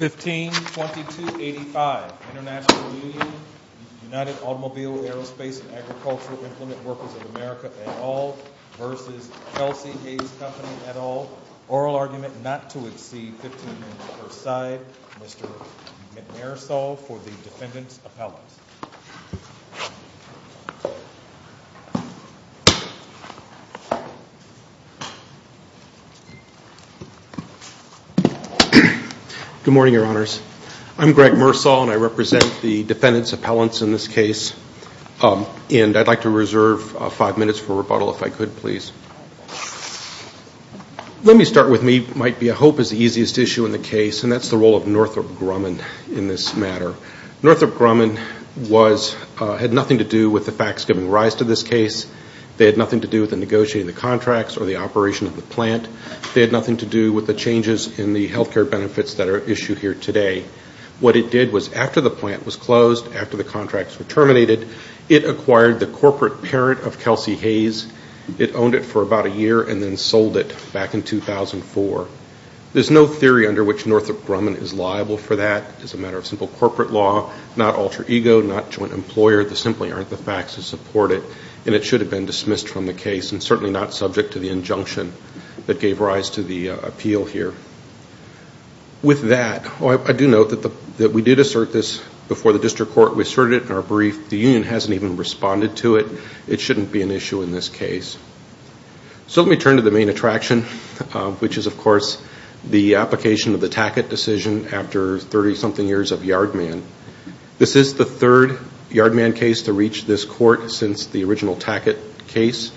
152285, International Union, United Automobile, Aerospace, and Agricultural Implement Workers of America et al. v. Kelsey-Hayes Company et al. Oral argument not to exceed $15,000 per side. Mr. McNair saw for the defendant's appellate. Good morning, Your Honors. I'm Greg Mersall, and I represent the defendant's appellate in this case. And I'd like to reserve five minutes for rebuttal if I could, please. Let me start with what might be a hope as the easiest issue in the case, and that's the role of Northrop Grumman in this matter. Northrop Grumman had nothing to do with the facts giving rise to this case. They had nothing to do with negotiating the contracts or the operation of the plant. They had nothing to do with the changes in the health care benefits that are at issue here today. What it did was after the plant was closed, after the contracts were terminated, it acquired the corporate parent of Kelsey-Hayes. It owned it for about a year and then sold it back in 2004. There's no theory under which Northrop Grumman is liable for that. It's a matter of simple corporate law, not alter ego, not joint employer. There simply aren't the facts to support it, and it should have been dismissed from the case and certainly not subject to the injunction that gave rise to the appeal here. With that, I do note that we did assert this before the district court. We asserted it in our brief. The union hasn't even responded to it. It shouldn't be an issue in this case. So let me turn to the main attraction, which is, of course, the application of the Tackett decision after 30-something years of Yardman. This is the third Yardman case to reach this court since the original Tackett case.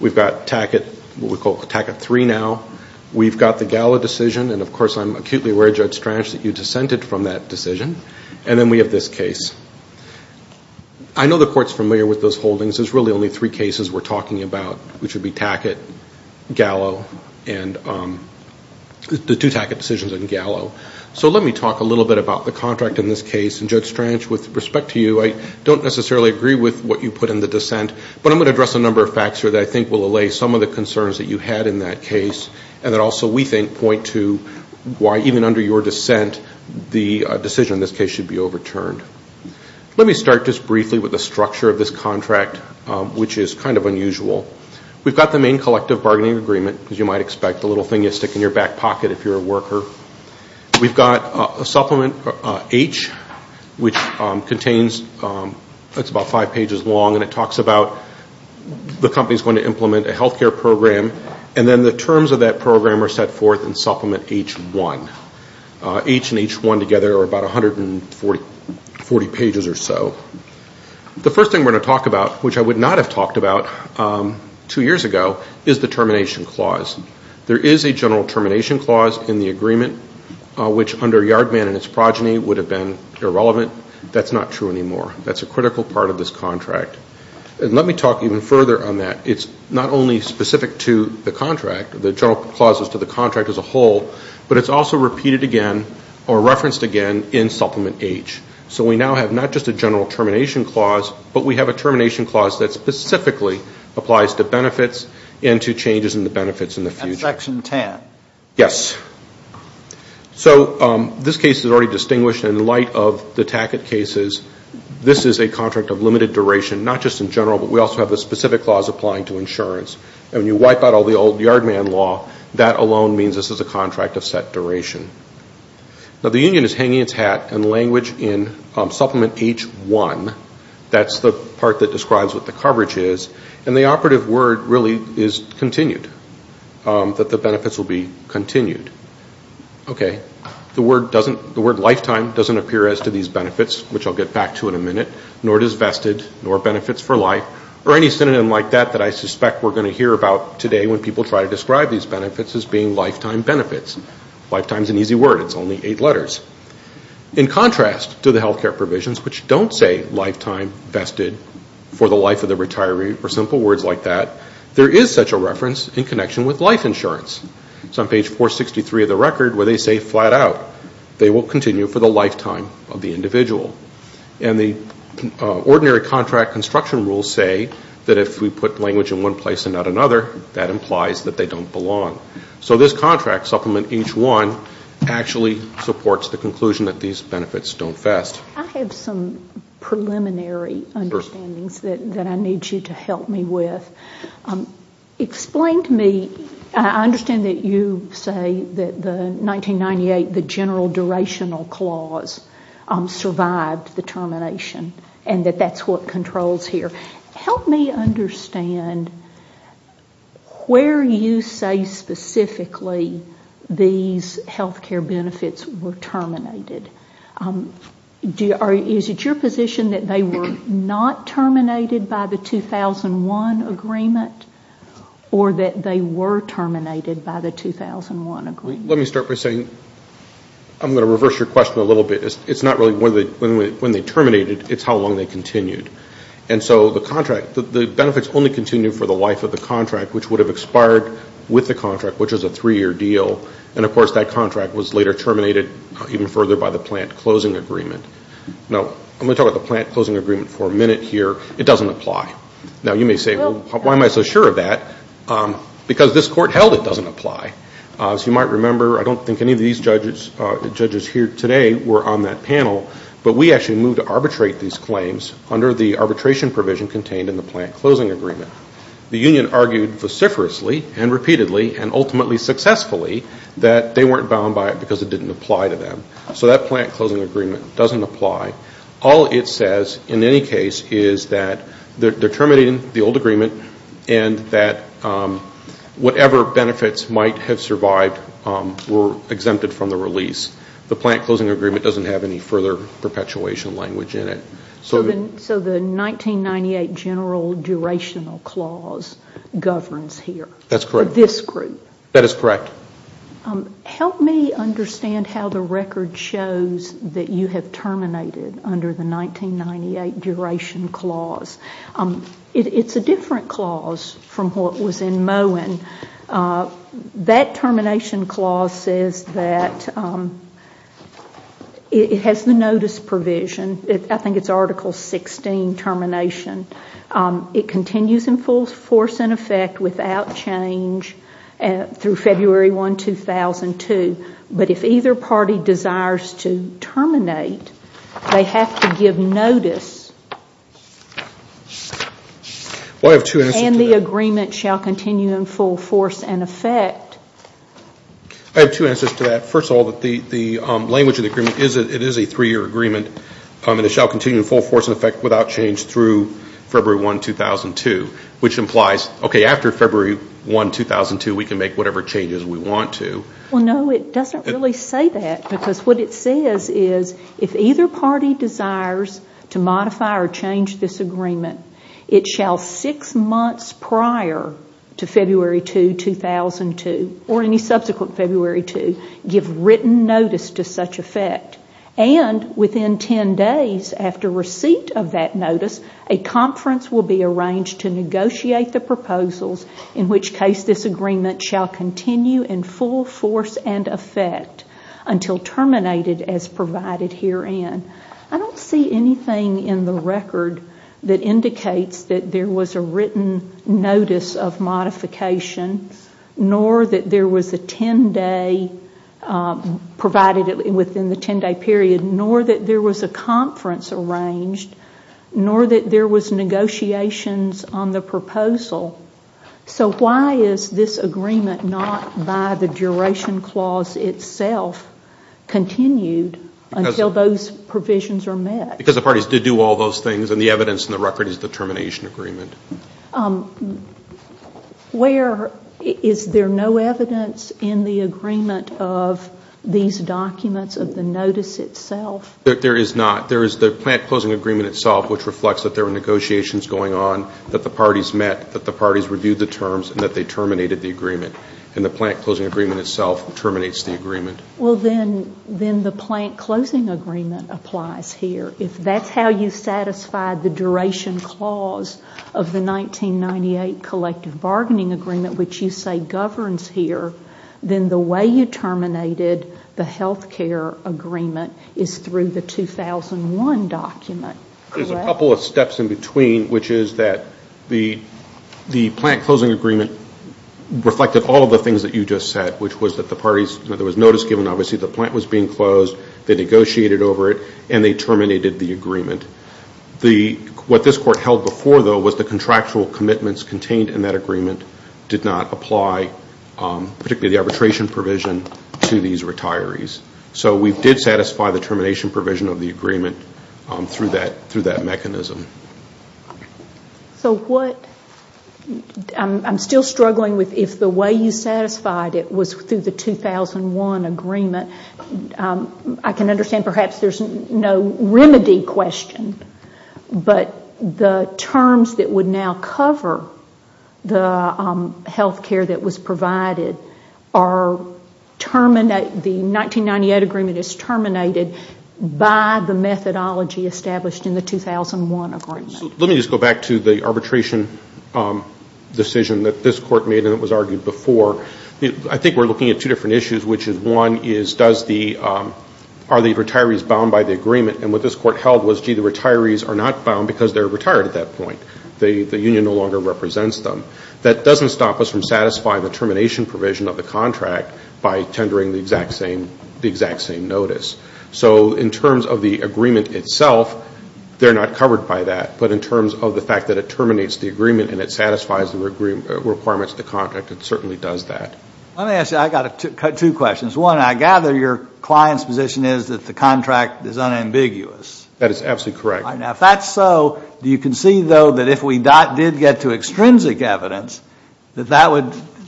We've got Tackett, what we call Tackett III now. We've got the Gallo decision, and of course I'm acutely aware, Judge Strange, that you dissented from that decision. And then we have this case. I know the court's familiar with those holdings. There's really only three cases we're talking about, which would be Tackett, Gallo, and the two Tackett decisions and Gallo. So let me talk a little bit about the contract in this case. And, Judge Strange, with respect to you, I don't necessarily agree with what you put in the dissent, but I'm going to address a number of facts here that I think will allay some of the concerns that you had in that case and that also we think point to why, even under your dissent, the decision in this case should be overturned. Let me start just briefly with the structure of this contract, which is kind of unusual. We've got the main collective bargaining agreement, as you might expect, the little thing you stick in your back pocket if you're a worker. We've got a supplement, H, which contains, it's about five pages long, and it talks about the company's going to implement a health care program, and then the terms of that program are set forth in supplement H1. H and H1 together are about 140 pages or so. The first thing we're going to talk about, which I would not have talked about two years ago, is the termination clause. There is a general termination clause in the agreement, which under Yard Man and its progeny would have been irrelevant. That's not true anymore. That's a critical part of this contract. And let me talk even further on that. It's not only specific to the contract, the general clause is to the contract as a whole, but it's also repeated again or referenced again in supplement H. So we now have not just a general termination clause, but we have a termination clause that specifically applies to benefits and to changes in the benefits in the future. And section 10. Yes. So this case is already distinguished in light of the Tackett cases. This is a contract of limited duration, not just in general, but we also have a specific clause applying to insurance. And when you wipe out all the old Yard Man law, that alone means this is a contract of set duration. Now the union is hanging its hat in language in supplement H.1. That's the part that describes what the coverage is. And the operative word really is continued, that the benefits will be continued. Okay. The word lifetime doesn't appear as to these benefits, which I'll get back to in a minute, nor does vested, nor benefits for life, or any synonym like that that I suspect we're going to hear about today when people try to describe these benefits as being lifetime benefits. Lifetime is an easy word. It's only eight letters. In contrast to the health care provisions, which don't say lifetime vested for the life of the retiree, or simple words like that, there is such a reference in connection with life insurance. It's on page 463 of the record where they say flat out, they will continue for the lifetime of the individual. And the ordinary contract construction rules say that if we put language in one place and not another, that implies that they don't belong. So this contract, supplement H1, actually supports the conclusion that these benefits don't vest. I have some preliminary understandings that I need you to help me with. Explain to me, I understand that you say that the 1998, the general durational clause, survived the termination, and that that's what controls here. Help me understand where you say specifically these health care benefits were terminated. Is it your position that they were not terminated by the 2001 agreement, or that they were terminated by the 2001 agreement? Let me start by saying, I'm going to reverse your question a little bit. It's not really when they terminated, it's how long they continued. And so the contract, the benefits only continued for the life of the contract, which would have expired with the contract, which was a three-year deal. And, of course, that contract was later terminated even further by the plant closing agreement. Now, I'm going to talk about the plant closing agreement for a minute here. It doesn't apply. Now, you may say, well, why am I so sure of that? Because this court held it doesn't apply. As you might remember, I don't think any of these judges here today were on that panel, but we actually moved to arbitrate these claims under the arbitration provision contained in the plant closing agreement. The union argued vociferously and repeatedly and ultimately successfully that they weren't bound by it because it didn't apply to them. So that plant closing agreement doesn't apply. All it says in any case is that they're terminating the old agreement and that whatever benefits might have survived were exempted from the release. The plant closing agreement doesn't have any further perpetuation language in it. So the 1998 general durational clause governs here? That's correct. For this group? That is correct. Help me understand how the record shows that you have terminated under the 1998 duration clause. It's a different clause from what was in Moen. That termination clause says that it has the notice provision. I think it's Article 16, termination. It continues in full force and effect without change through February 1, 2002. But if either party desires to terminate, they have to give notice. Well, I have two answers to that. And the agreement shall continue in full force and effect. I have two answers to that. First of all, the language of the agreement is it is a three-year agreement and it shall continue in full force and effect without change through February 1, 2002, which implies, okay, after February 1, 2002, we can make whatever changes we want to. Well, no, it doesn't really say that. Because what it says is if either party desires to modify or change this agreement, it shall six months prior to February 2, 2002, or any subsequent February 2, give written notice to such effect. And within ten days after receipt of that notice, a conference will be arranged to negotiate the proposals, in which case this agreement shall continue in full force and effect until terminated as provided herein. I don't see anything in the record that indicates that there was a written notice of modification, nor that there was a ten-day, provided within the ten-day period, nor that there was a conference arranged, nor that there was negotiations on the proposal. So why is this agreement not, by the duration clause itself, continued until those provisions are met? Because the parties did do all those things, and the evidence in the record is the termination agreement. Where is there no evidence in the agreement of these documents of the notice itself? There is not. There is the plant closing agreement itself, which reflects that there were negotiations going on, that the parties met, that the parties reviewed the terms, and that they terminated the agreement. And the plant closing agreement itself terminates the agreement. Well, then the plant closing agreement applies here. If that's how you satisfied the duration clause of the 1998 collective bargaining agreement, which you say governs here, then the way you terminated the health care agreement is through the 2001 document. There's a couple of steps in between, which is that the plant closing agreement reflected all of the things that you just said, which was that the parties, that there was notice given. Obviously, the plant was being closed. They negotiated over it, and they terminated the agreement. What this Court held before, though, was the contractual commitments contained in that agreement did not apply, particularly the arbitration provision, to these retirees. So we did satisfy the termination provision of the agreement through that mechanism. So what? I'm still struggling with if the way you satisfied it was through the 2001 agreement. I can understand perhaps there's no remedy question, but the terms that would now cover the health care that was provided are terminated, the 1998 agreement is terminated, by the methodology established in the 2001 agreement. Let me just go back to the arbitration decision that this Court made, and it was argued before. I think we're looking at two different issues, which is, one, are the retirees bound by the agreement? And what this Court held was, gee, the retirees are not bound because they're retired at that point. The union no longer represents them. That doesn't stop us from satisfying the termination provision of the contract by tendering the exact same notice. So in terms of the agreement itself, they're not covered by that. But in terms of the fact that it terminates the agreement and it satisfies the requirements of the contract, it certainly does that. Let me ask you, I've got two questions. One, I gather your client's position is that the contract is unambiguous. That is absolutely correct. Now, if that's so, do you concede, though, that if we did get to extrinsic evidence, that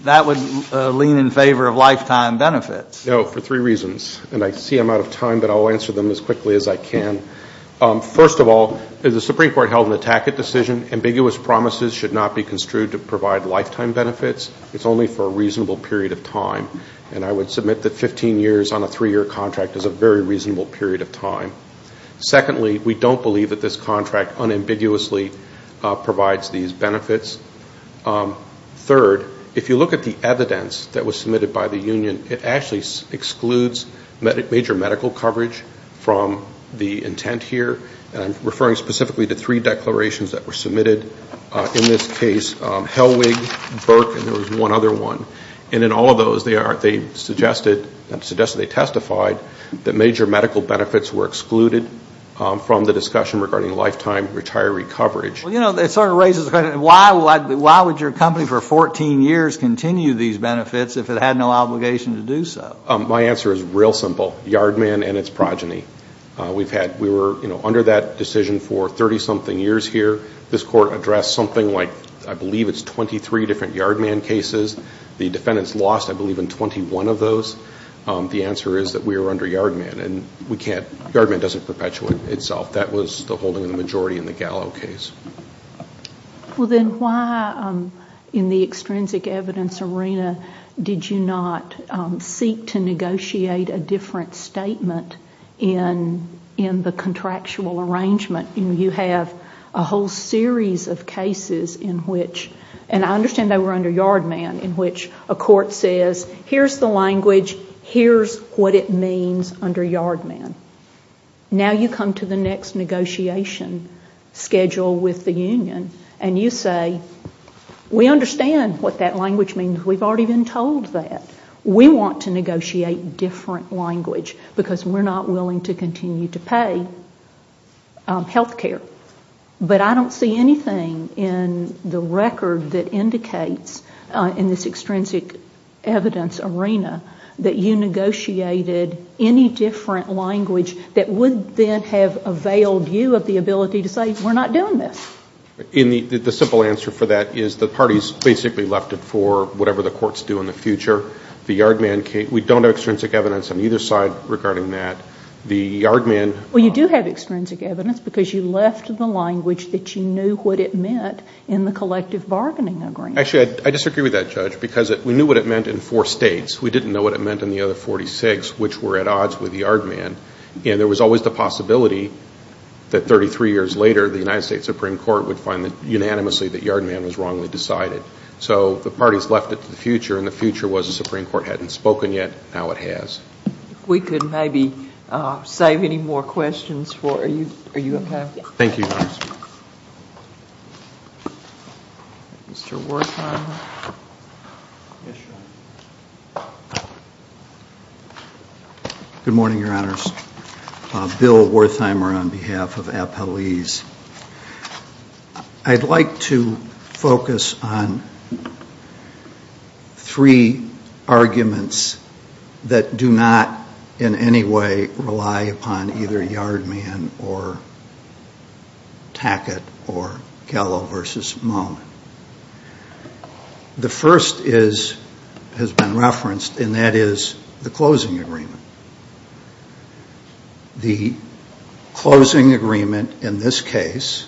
that would lean in favor of lifetime benefits? No, for three reasons. And I see I'm out of time, but I'll answer them as quickly as I can. First of all, the Supreme Court held in the Tackett decision, ambiguous promises should not be construed to provide lifetime benefits. It's only for a reasonable period of time. And I would submit that 15 years on a three-year contract is a very reasonable period of time. Secondly, we don't believe that this contract unambiguously provides these benefits. Third, if you look at the evidence that was submitted by the union, it actually excludes major medical coverage from the intent here. And I'm referring specifically to three declarations that were submitted in this case, Helwig, Burke, and there was one other one. And in all of those, they suggested, they testified, that major medical benefits were excluded from the discussion regarding lifetime retiree coverage. Well, you know, it sort of raises the question, why would your company for 14 years continue these benefits if it had no obligation to do so? My answer is real simple. Yard Man and its progeny. We were under that decision for 30-something years here. This Court addressed something like, I believe it's 23 different Yard Man cases. The defendants lost, I believe, in 21 of those. The answer is that we were under Yard Man. And we can't, Yard Man doesn't perpetuate itself. That was the holding of the majority in the Gallo case. Well, then why, in the extrinsic evidence arena, did you not seek to negotiate a different statement in the contractual arrangement? You have a whole series of cases in which, and I understand they were under Yard Man, in which a court says, here's the language, here's what it means under Yard Man. Now you come to the next negotiation schedule with the union, and you say, we understand what that language means. We've already been told that. We want to negotiate different language because we're not willing to continue to pay health care. But I don't see anything in the record that indicates, in this extrinsic evidence arena, that you negotiated any different language that would then have availed you of the ability to say, we're not doing this. The simple answer for that is the parties basically left it for whatever the courts do in the future. The Yard Man case, we don't have extrinsic evidence on either side regarding that. The Yard Man— Well, you do have extrinsic evidence because you left the language that you knew what it meant in the collective bargaining agreement. Actually, I disagree with that, Judge, because we knew what it meant in four states. We didn't know what it meant in the other 46, which were at odds with Yard Man. And there was always the possibility that 33 years later, the United States Supreme Court would find unanimously that Yard Man was wrongly decided. So the parties left it to the future, and the future was the Supreme Court hadn't spoken yet. Now it has. If we could maybe save any more questions for you. Are you okay? Thank you, Your Honor. Mr. Wertheimer. Yes, Your Honor. Good morning, Your Honors. Bill Wertheimer on behalf of Appellees. I'd like to focus on three arguments that do not in any way rely upon either Yard Man or Tackett or Gallo versus Moen. The first has been referenced, and that is the closing agreement. The closing agreement in this case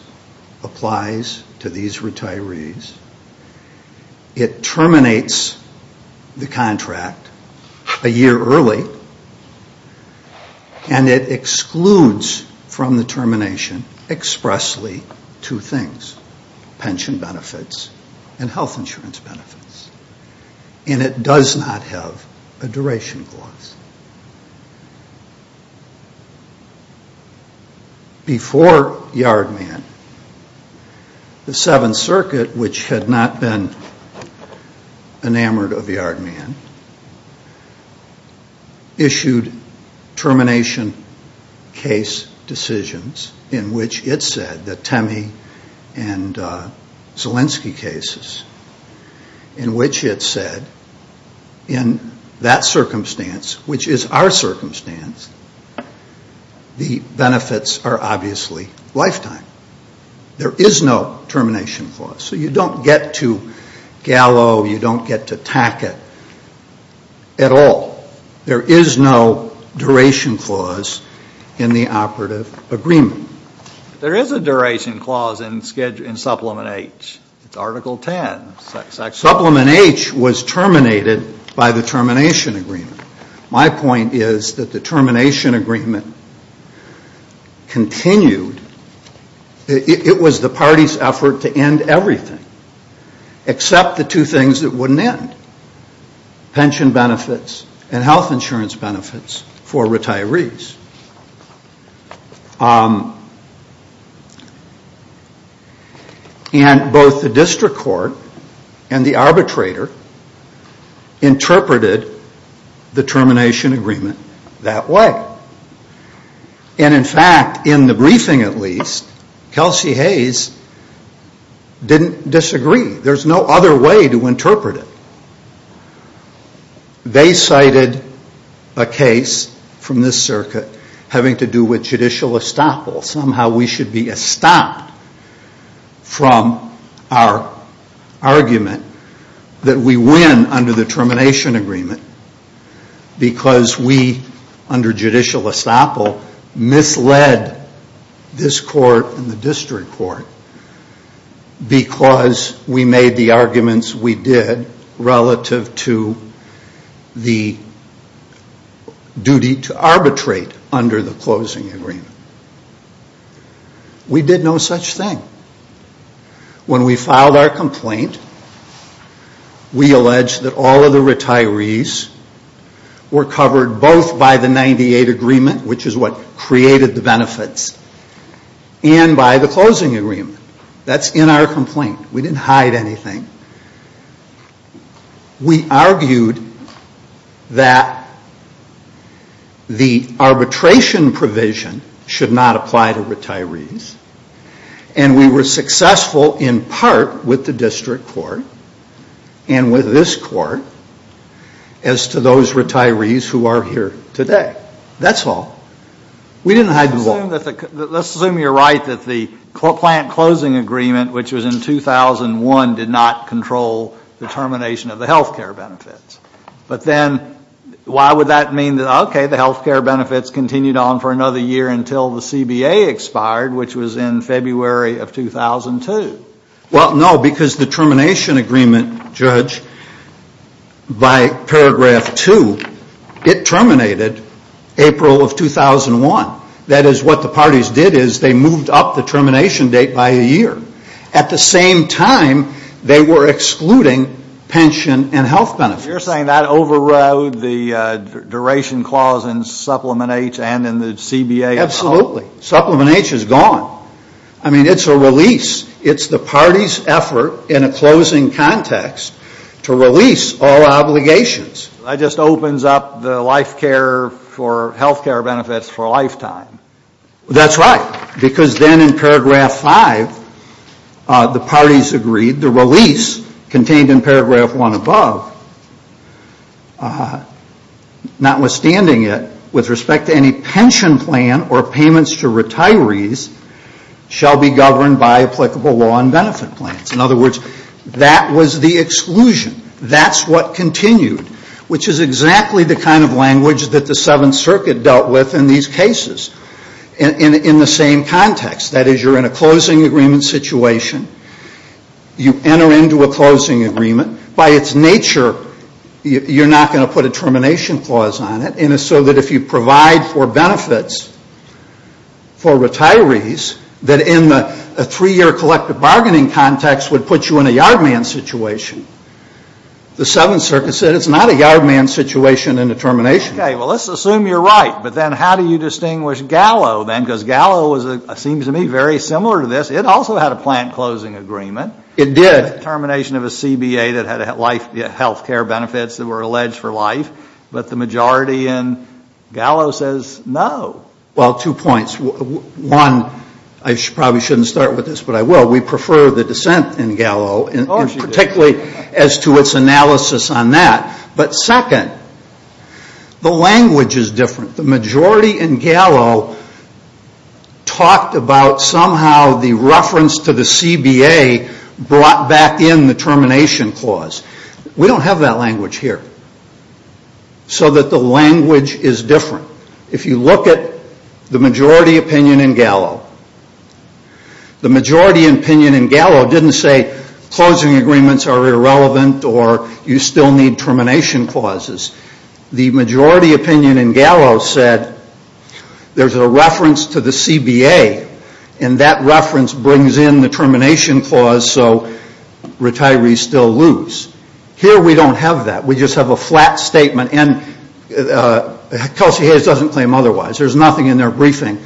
applies to these retirees. It terminates the contract a year early, and it excludes from the termination expressly two things. Pension benefits and health insurance benefits. And it does not have a duration clause. Before Yard Man, the Seventh Circuit, which had not been enamored of Yard Man, issued termination case decisions in which it said, the Temme and Zielinski cases, in which it said, in that circumstance, which is our circumstance, the benefits are obviously lifetime. There is no termination clause, so you don't get to Gallo, you don't get to Tackett at all. There is no duration clause in the operative agreement. There is a duration clause in Supplement H. It's Article 10. Supplement H was terminated by the termination agreement. My point is that the termination agreement continued. It was the party's effort to end everything except the two things that wouldn't end, pension benefits and health insurance benefits for retirees. And both the district court and the arbitrator interpreted the termination agreement that way. And in fact, in the briefing at least, Kelsey Hayes didn't disagree. There's no other way to interpret it. They cited a case from this circuit having to do with judicial estoppel. Somehow we should be estopped from our argument that we win under the termination agreement because we, under judicial estoppel, misled this court and the district court because we made the arguments we did relative to the duty to arbitrate under the closing agreement. We did no such thing. When we filed our complaint, we alleged that all of the retirees were covered both by the 98 agreement, which is what created the benefits, and by the closing agreement. That's in our complaint. We didn't hide anything. We argued that the arbitration provision should not apply to retirees. And we were successful in part with the district court and with this court as to those retirees who are here today. That's all. We didn't hide them all. Let's assume you're right that the plant closing agreement, which was in 2001, did not control the termination of the health care benefits. But then why would that mean that, okay, the health care benefits continued on for another year until the CBA expired, which was in February of 2002? Well, no, because the termination agreement, Judge, by paragraph two, it terminated April of 2001. That is what the parties did is they moved up the termination date by a year. At the same time, they were excluding pension and health benefits. So you're saying that overrode the duration clause in Supplement H and in the CBA? Absolutely. Supplement H is gone. I mean, it's a release. It's the party's effort in a closing context to release all obligations. That just opens up the life care for health care benefits for a lifetime. That's right. Because then in paragraph five, the parties agreed the release contained in paragraph one above, notwithstanding it, with respect to any pension plan or payments to retirees shall be governed by applicable law and benefit plans. In other words, that was the exclusion. That's what continued, which is exactly the kind of language that the Seventh Circuit dealt with in these cases. And in the same context, that is, you're in a closing agreement situation. You enter into a closing agreement. By its nature, you're not going to put a termination clause on it. And so that if you provide for benefits for retirees, that in a three-year collective bargaining context would put you in a yard man situation. The Seventh Circuit said it's not a yard man situation in a termination. Okay. Well, let's assume you're right. But then how do you distinguish Gallo then? Because Gallo seems to me very similar to this. It also had a plant closing agreement. It did. Termination of a CBA that had health care benefits that were alleged for life. But the majority in Gallo says no. Well, two points. One, I probably shouldn't start with this, but I will. We prefer the dissent in Gallo, particularly as to its analysis on that. But second, the language is different. The majority in Gallo talked about somehow the reference to the CBA brought back in the termination clause. We don't have that language here. So that the language is different. If you look at the majority opinion in Gallo, the majority opinion in Gallo didn't say closing agreements are irrelevant or you still need termination clauses. The majority opinion in Gallo said there's a reference to the CBA, and that reference brings in the termination clause so retirees still lose. Here we don't have that. We just have a flat statement. And Kelsey Hayes doesn't claim otherwise. There's nothing in their briefing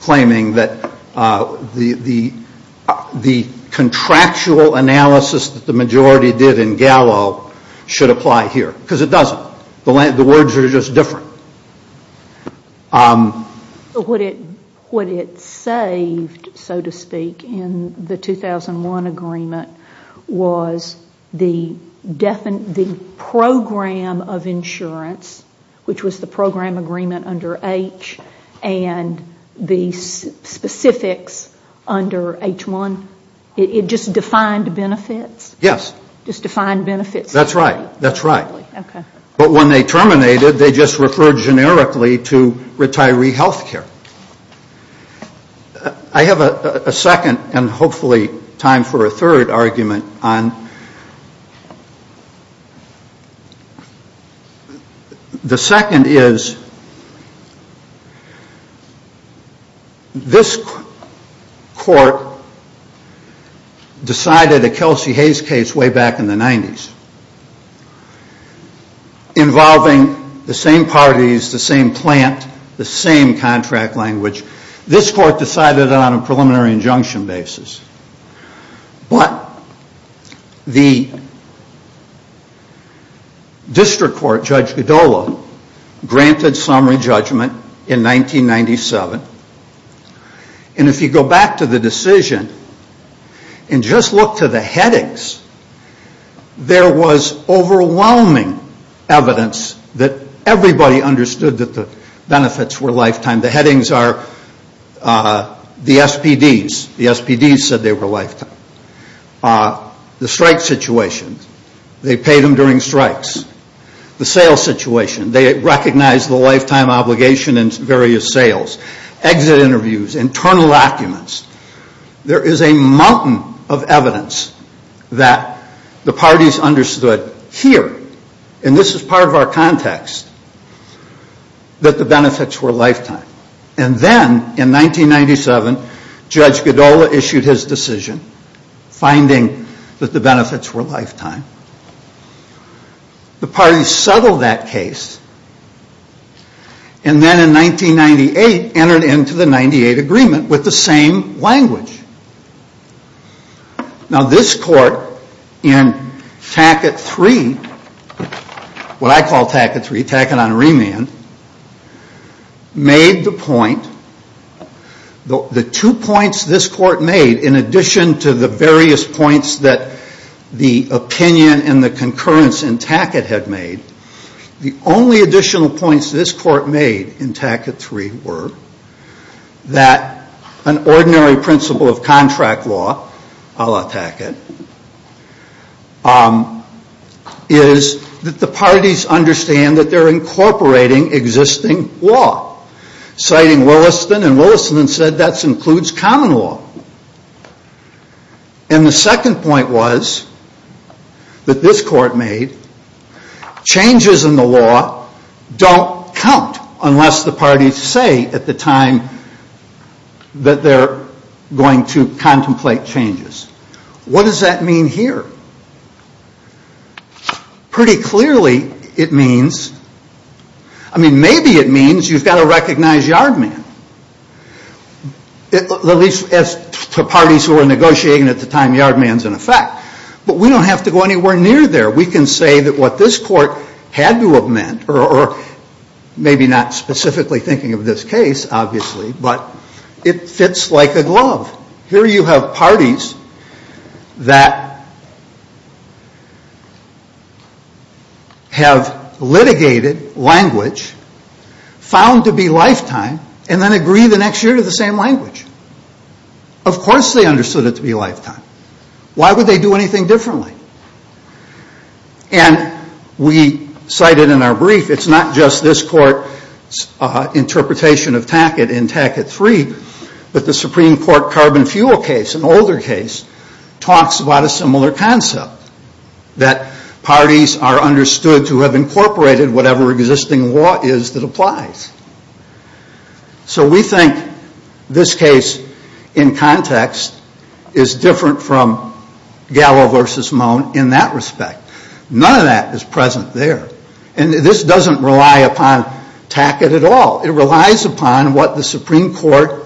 claiming that the contractual analysis that the majority did in Gallo should apply here. Because it doesn't. The words are just different. What it saved, so to speak, in the 2001 agreement was the program of insurance, which was the program agreement under H, and the specifics under H1. It just defined benefits? Yes. Just defined benefits? That's right. That's right. Okay. But when they terminated, they just referred generically to retiree health care. I have a second and hopefully time for a third argument. The second is this court decided a Kelsey Hayes case way back in the 90s involving the same parties, the same plant, the same contract language. This court decided on a preliminary injunction basis. But the district court, Judge Godolo, granted summary judgment in 1997. And if you go back to the decision and just look to the headings, there was overwhelming evidence that everybody understood that the benefits were lifetime. The headings are the SPDs. The SPDs said they were lifetime. The strike situation, they paid them during strikes. The sales situation, they recognized the lifetime obligation in various sales. Exit interviews, internal documents. There is a mountain of evidence that the parties understood here, and this is part of our context, that the benefits were lifetime. And then in 1997, Judge Godolo issued his decision finding that the benefits were lifetime. The parties settled that case and then in 1998 entered into the 98 agreement with the same language. Now this court in Tackett 3, what I call Tackett 3, Tackett on remand, made the point, the two points this court made in addition to the various points that the opinion and the concurrence in Tackett had made, the only additional points this court made in Tackett 3 were that an ordinary principle of contract law, a la Tackett, is that the parties understand that they're incorporating existing law. Citing Williston, and Williston said that includes common law. And the second point was, that this court made, changes in the law don't count unless the parties say at the time that they're going to contemplate changes. What does that mean here? Pretty clearly it means, I mean maybe it means you've got to recognize yard man. At least as to parties who are negotiating at the time yard man's in effect. But we don't have to go anywhere near there. We can say that what this court had to have meant, or maybe not specifically thinking of this case obviously, but it fits like a glove. Here you have parties that have litigated language, found to be lifetime, and then agree the next year to the same language. Of course they understood it to be lifetime. Why would they do anything differently? And we cited in our brief, it's not just this court's interpretation of Tackett in Tackett 3, but the Supreme Court carbon fuel case, an older case, talks about a similar concept. That parties are understood to have incorporated whatever existing law is that applies. So we think this case in context is different from Gallo versus Moen in that respect. None of that is present there. And this doesn't rely upon Tackett at all. It relies upon what the Supreme Court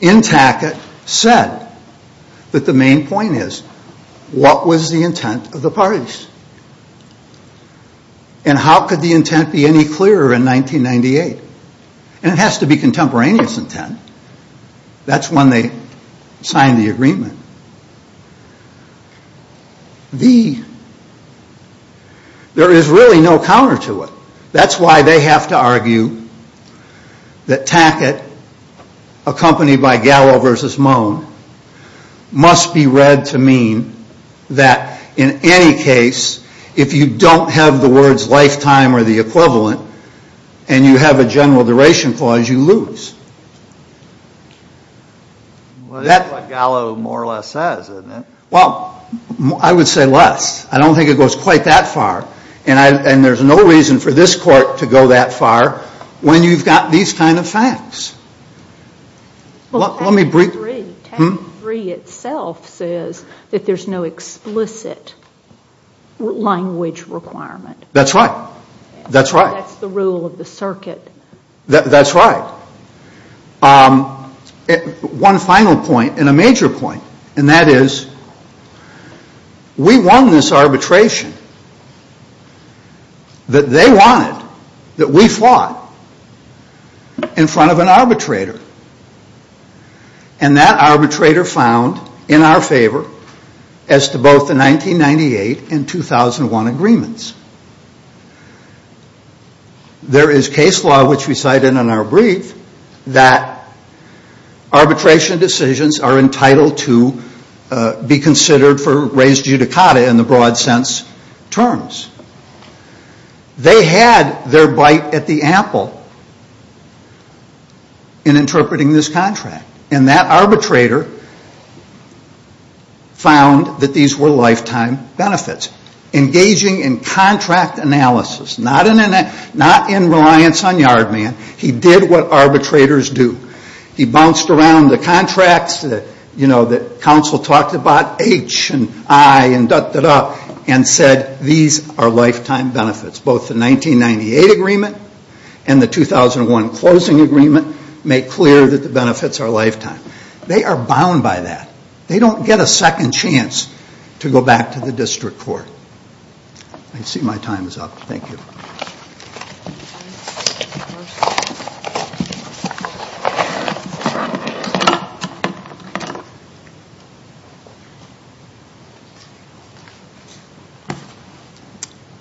in Tackett said. That the main point is, what was the intent of the parties? And how could the intent be any clearer in 1998? And it has to be contemporaneous intent. That's when they signed the agreement. There is really no counter to it. That's why they have to argue that Tackett, accompanied by Gallo versus Moen, must be read to mean that in any case, if you don't have the words lifetime or the equivalent, and you have a general duration clause, you lose. That's what Gallo more or less says, isn't it? Well, I would say less. I don't think it goes quite that far. And there's no reason for this court to go that far when you've got these kind of facts. Well, Tackett 3, Tackett 3 itself says that there's no explicit language requirement. That's right. That's right. That's the rule of the circuit. That's right. One final point and a major point, and that is, we won this arbitration that they wanted, that we fought, in front of an arbitrator. And that arbitrator found in our favor as to both the 1998 and 2001 agreements. There is case law, which we cited in our brief, that arbitration decisions are entitled to be considered for res judicata in the broad sense terms. They had their bite at the apple in interpreting this contract. And that arbitrator found that these were lifetime benefits. Engaging in contract analysis, not in reliance on yard man. He did what arbitrators do. He bounced around the contracts that, you know, that counsel talked about, H and I and da-da-da, and said these are lifetime benefits. Both the 1998 agreement and the 2001 closing agreement make clear that the benefits are lifetime. They are bound by that. They don't get a second chance to go back to the district court. I see my time is up. Thank you.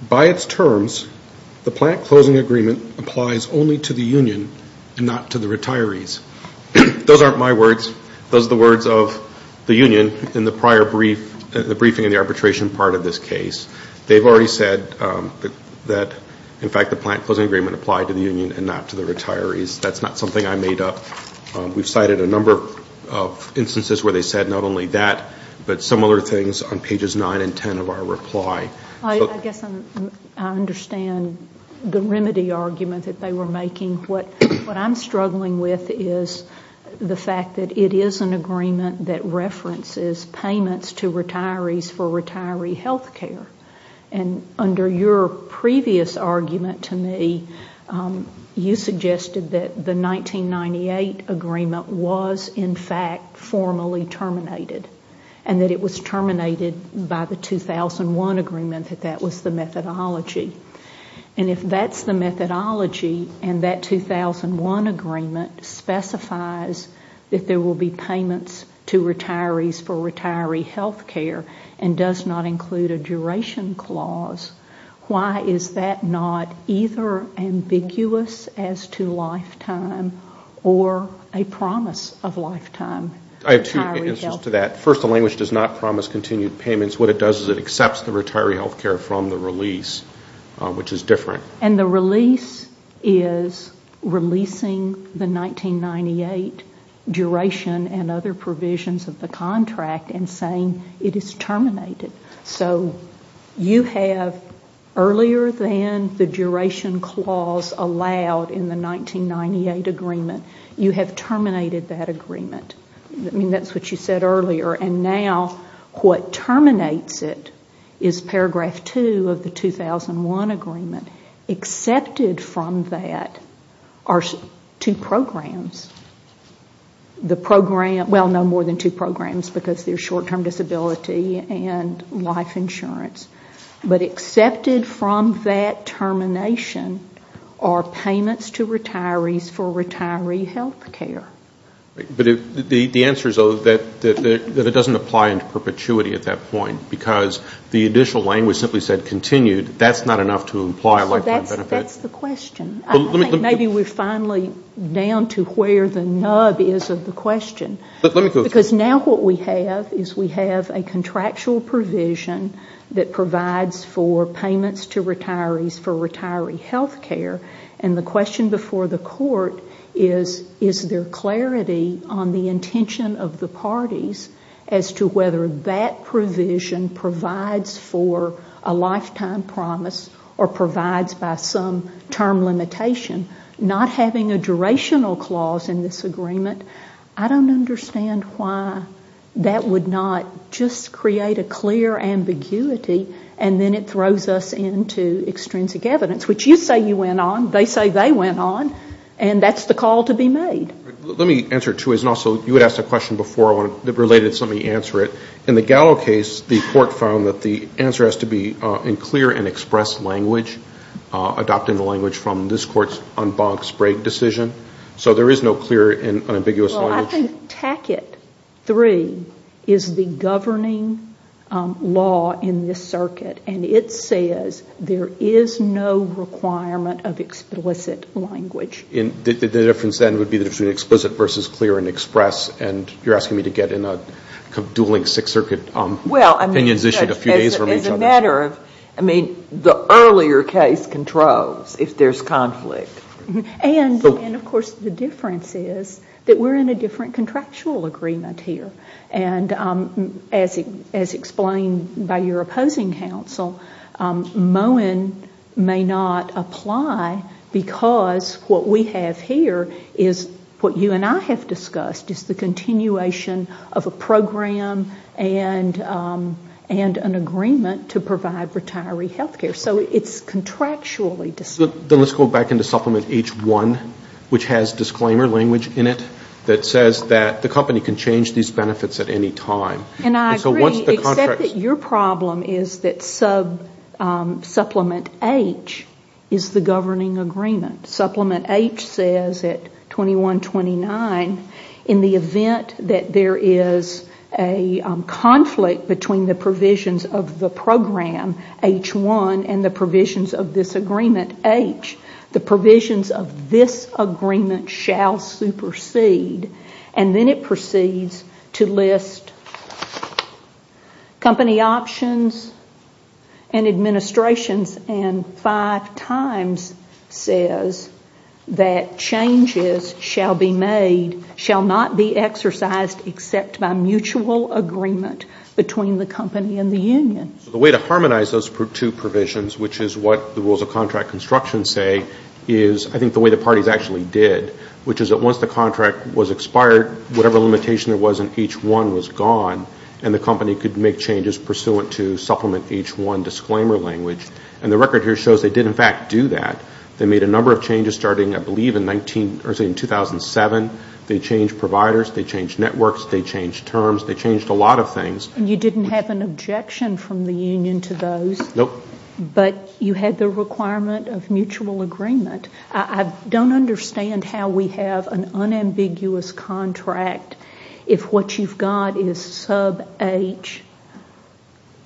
By its terms, the plant closing agreement applies only to the union and not to the retirees. Those aren't my words. Those are the words of the union in the prior brief, the briefing and the arbitration part of this case. They've already said that, in fact, the plant closing agreement applied to the union and not to the retirees. That's not something I made up. We've cited a number of instances where they said not only that, but similar things on pages 9 and 10 of our reply. I guess I understand the remedy argument that they were making. What I'm struggling with is the fact that it is an agreement that references payments to retirees for retiree health care. Under your previous argument to me, you suggested that the 1998 agreement was, in fact, formally terminated and that it was terminated by the 2001 agreement, that that was the methodology. If that's the methodology and that 2001 agreement specifies that there will be payments to retirees for retiree health care and does not include a duration clause, why is that not either ambiguous as to lifetime or a promise of lifetime? I have two answers to that. First, the language does not promise continued payments. What it does is it accepts the retiree health care from the release, which is different. And the release is releasing the 1998 duration and other provisions of the contract and saying it is terminated. So you have, earlier than the duration clause allowed in the 1998 agreement, you have terminated that agreement. I mean, that's what you said earlier. And now what terminates it is paragraph two of the 2001 agreement. Accepted from that are two programs. Well, no more than two programs because they're short-term disability and life insurance. But accepted from that termination are payments to retirees for retiree health care. But the answer is that it doesn't apply in perpetuity at that point. Because the additional language simply said continued, that's not enough to imply a lifetime benefit. That's the question. I think maybe we're finally down to where the nub is of the question. Because now what we have is we have a contractual provision that provides for payments to retirees for retiree health care. And the question before the court is, is there clarity on the intention of the parties as to whether that provision provides for a lifetime promise or provides by some term limitation? Not having a durational clause in this agreement, I don't understand why that would not just create a clear ambiguity and then it throws us into extrinsic evidence, which you say you went on, they say they went on, and that's the call to be made. Let me answer it two ways. And also you had asked a question before related, so let me answer it. In the Gallo case, the court found that the answer has to be in clear and expressed language, adopting the language from this court's en bancs break decision. So there is no clear and ambiguous language. I think Tackett 3 is the governing law in this circuit, and it says there is no requirement of explicit language. The difference then would be the difference between explicit versus clear and express, and you're asking me to get in a dueling Sixth Circuit opinion issued a few days from each other. As a matter of, I mean, the earlier case controls if there's conflict. And, of course, the difference is that we're in a different contractual agreement here. And as explained by your opposing counsel, Moen may not apply because what we have here is what you and I have discussed, is the continuation of a program and an agreement to provide retiree health care. So it's contractually distinct. Then let's go back into Supplement H1, which has disclaimer language in it, that says that the company can change these benefits at any time. And I agree, except that your problem is that sub-supplement H is the governing agreement. Supplement H says at 2129, in the event that there is a conflict between the provisions of the program, H1, and the provisions of this agreement, H, the provisions of this agreement shall supersede. And then it proceeds to list company options and administrations, and five times says that changes shall be made, shall not be exercised except by mutual agreement between the company and the union. So the way to harmonize those two provisions, which is what the rules of contract construction say, is I think the way the parties actually did, which is that once the contract was expired, whatever limitation there was in H1 was gone, and the company could make changes pursuant to Supplement H1 disclaimer language. And the record here shows they did, in fact, do that. They made a number of changes starting, I believe, in 2007. They changed providers. They changed networks. They changed terms. They changed a lot of things. You didn't have an objection from the union to those. No. But you had the requirement of mutual agreement. I don't understand how we have an unambiguous contract if what you've got is Sub H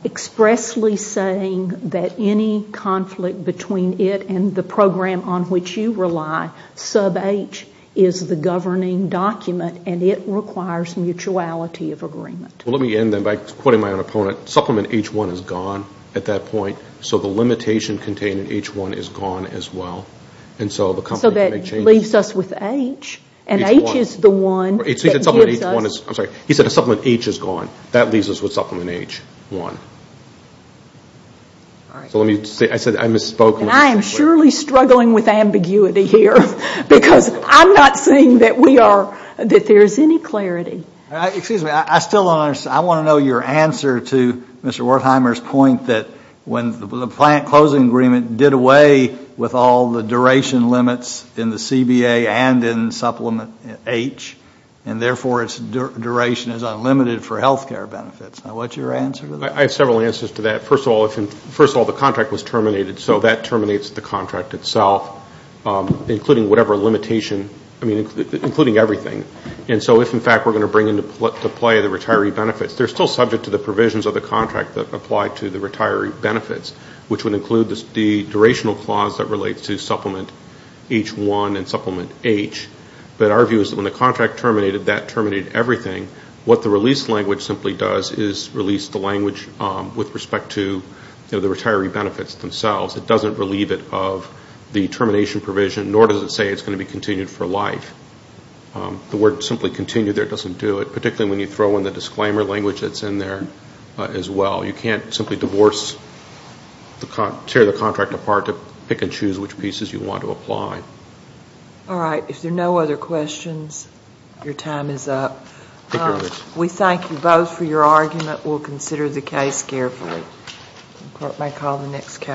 expressly saying that any conflict between it and the program on which you rely, Sub H is the governing document, and it requires mutuality of agreement. Well, let me end then by quoting my own opponent. Supplement H1 is gone at that point, so the limitation contained in H1 is gone as well. And so the company can make changes. So that leaves us with H, and H is the one that gives us. I'm sorry. He said Supplement H is gone. That leaves us with Supplement H1. All right. So let me say, I said I misspoke. And I am surely struggling with ambiguity here, because I'm not seeing that we are, that there is any clarity. Excuse me. I still don't understand. I want to know your answer to Mr. Wertheimer's point that when the plant closing agreement did away with all the duration limits in the CBA and in Supplement H, and therefore its duration is unlimited for health care benefits. What's your answer to that? I have several answers to that. First of all, the contract was terminated, so that terminates the contract itself, including whatever limitation, including everything. And so if, in fact, we're going to bring into play the retiree benefits, they're still subject to the provisions of the contract that apply to the retiree benefits, which would include the durational clause that relates to Supplement H1 and Supplement H. But our view is that when the contract terminated, that terminated everything. What the release language simply does is release the language with respect to the retiree benefits themselves. It doesn't relieve it of the termination provision, nor does it say it's going to be continued for life. The word simply continue there doesn't do it, particularly when you throw in the disclaimer language that's in there as well. You can't simply divorce, tear the contract apart to pick and choose which pieces you want to apply. All right. If there are no other questions, your time is up. Thank you. We thank you both for your argument. We'll consider the case carefully. The court may call the next case.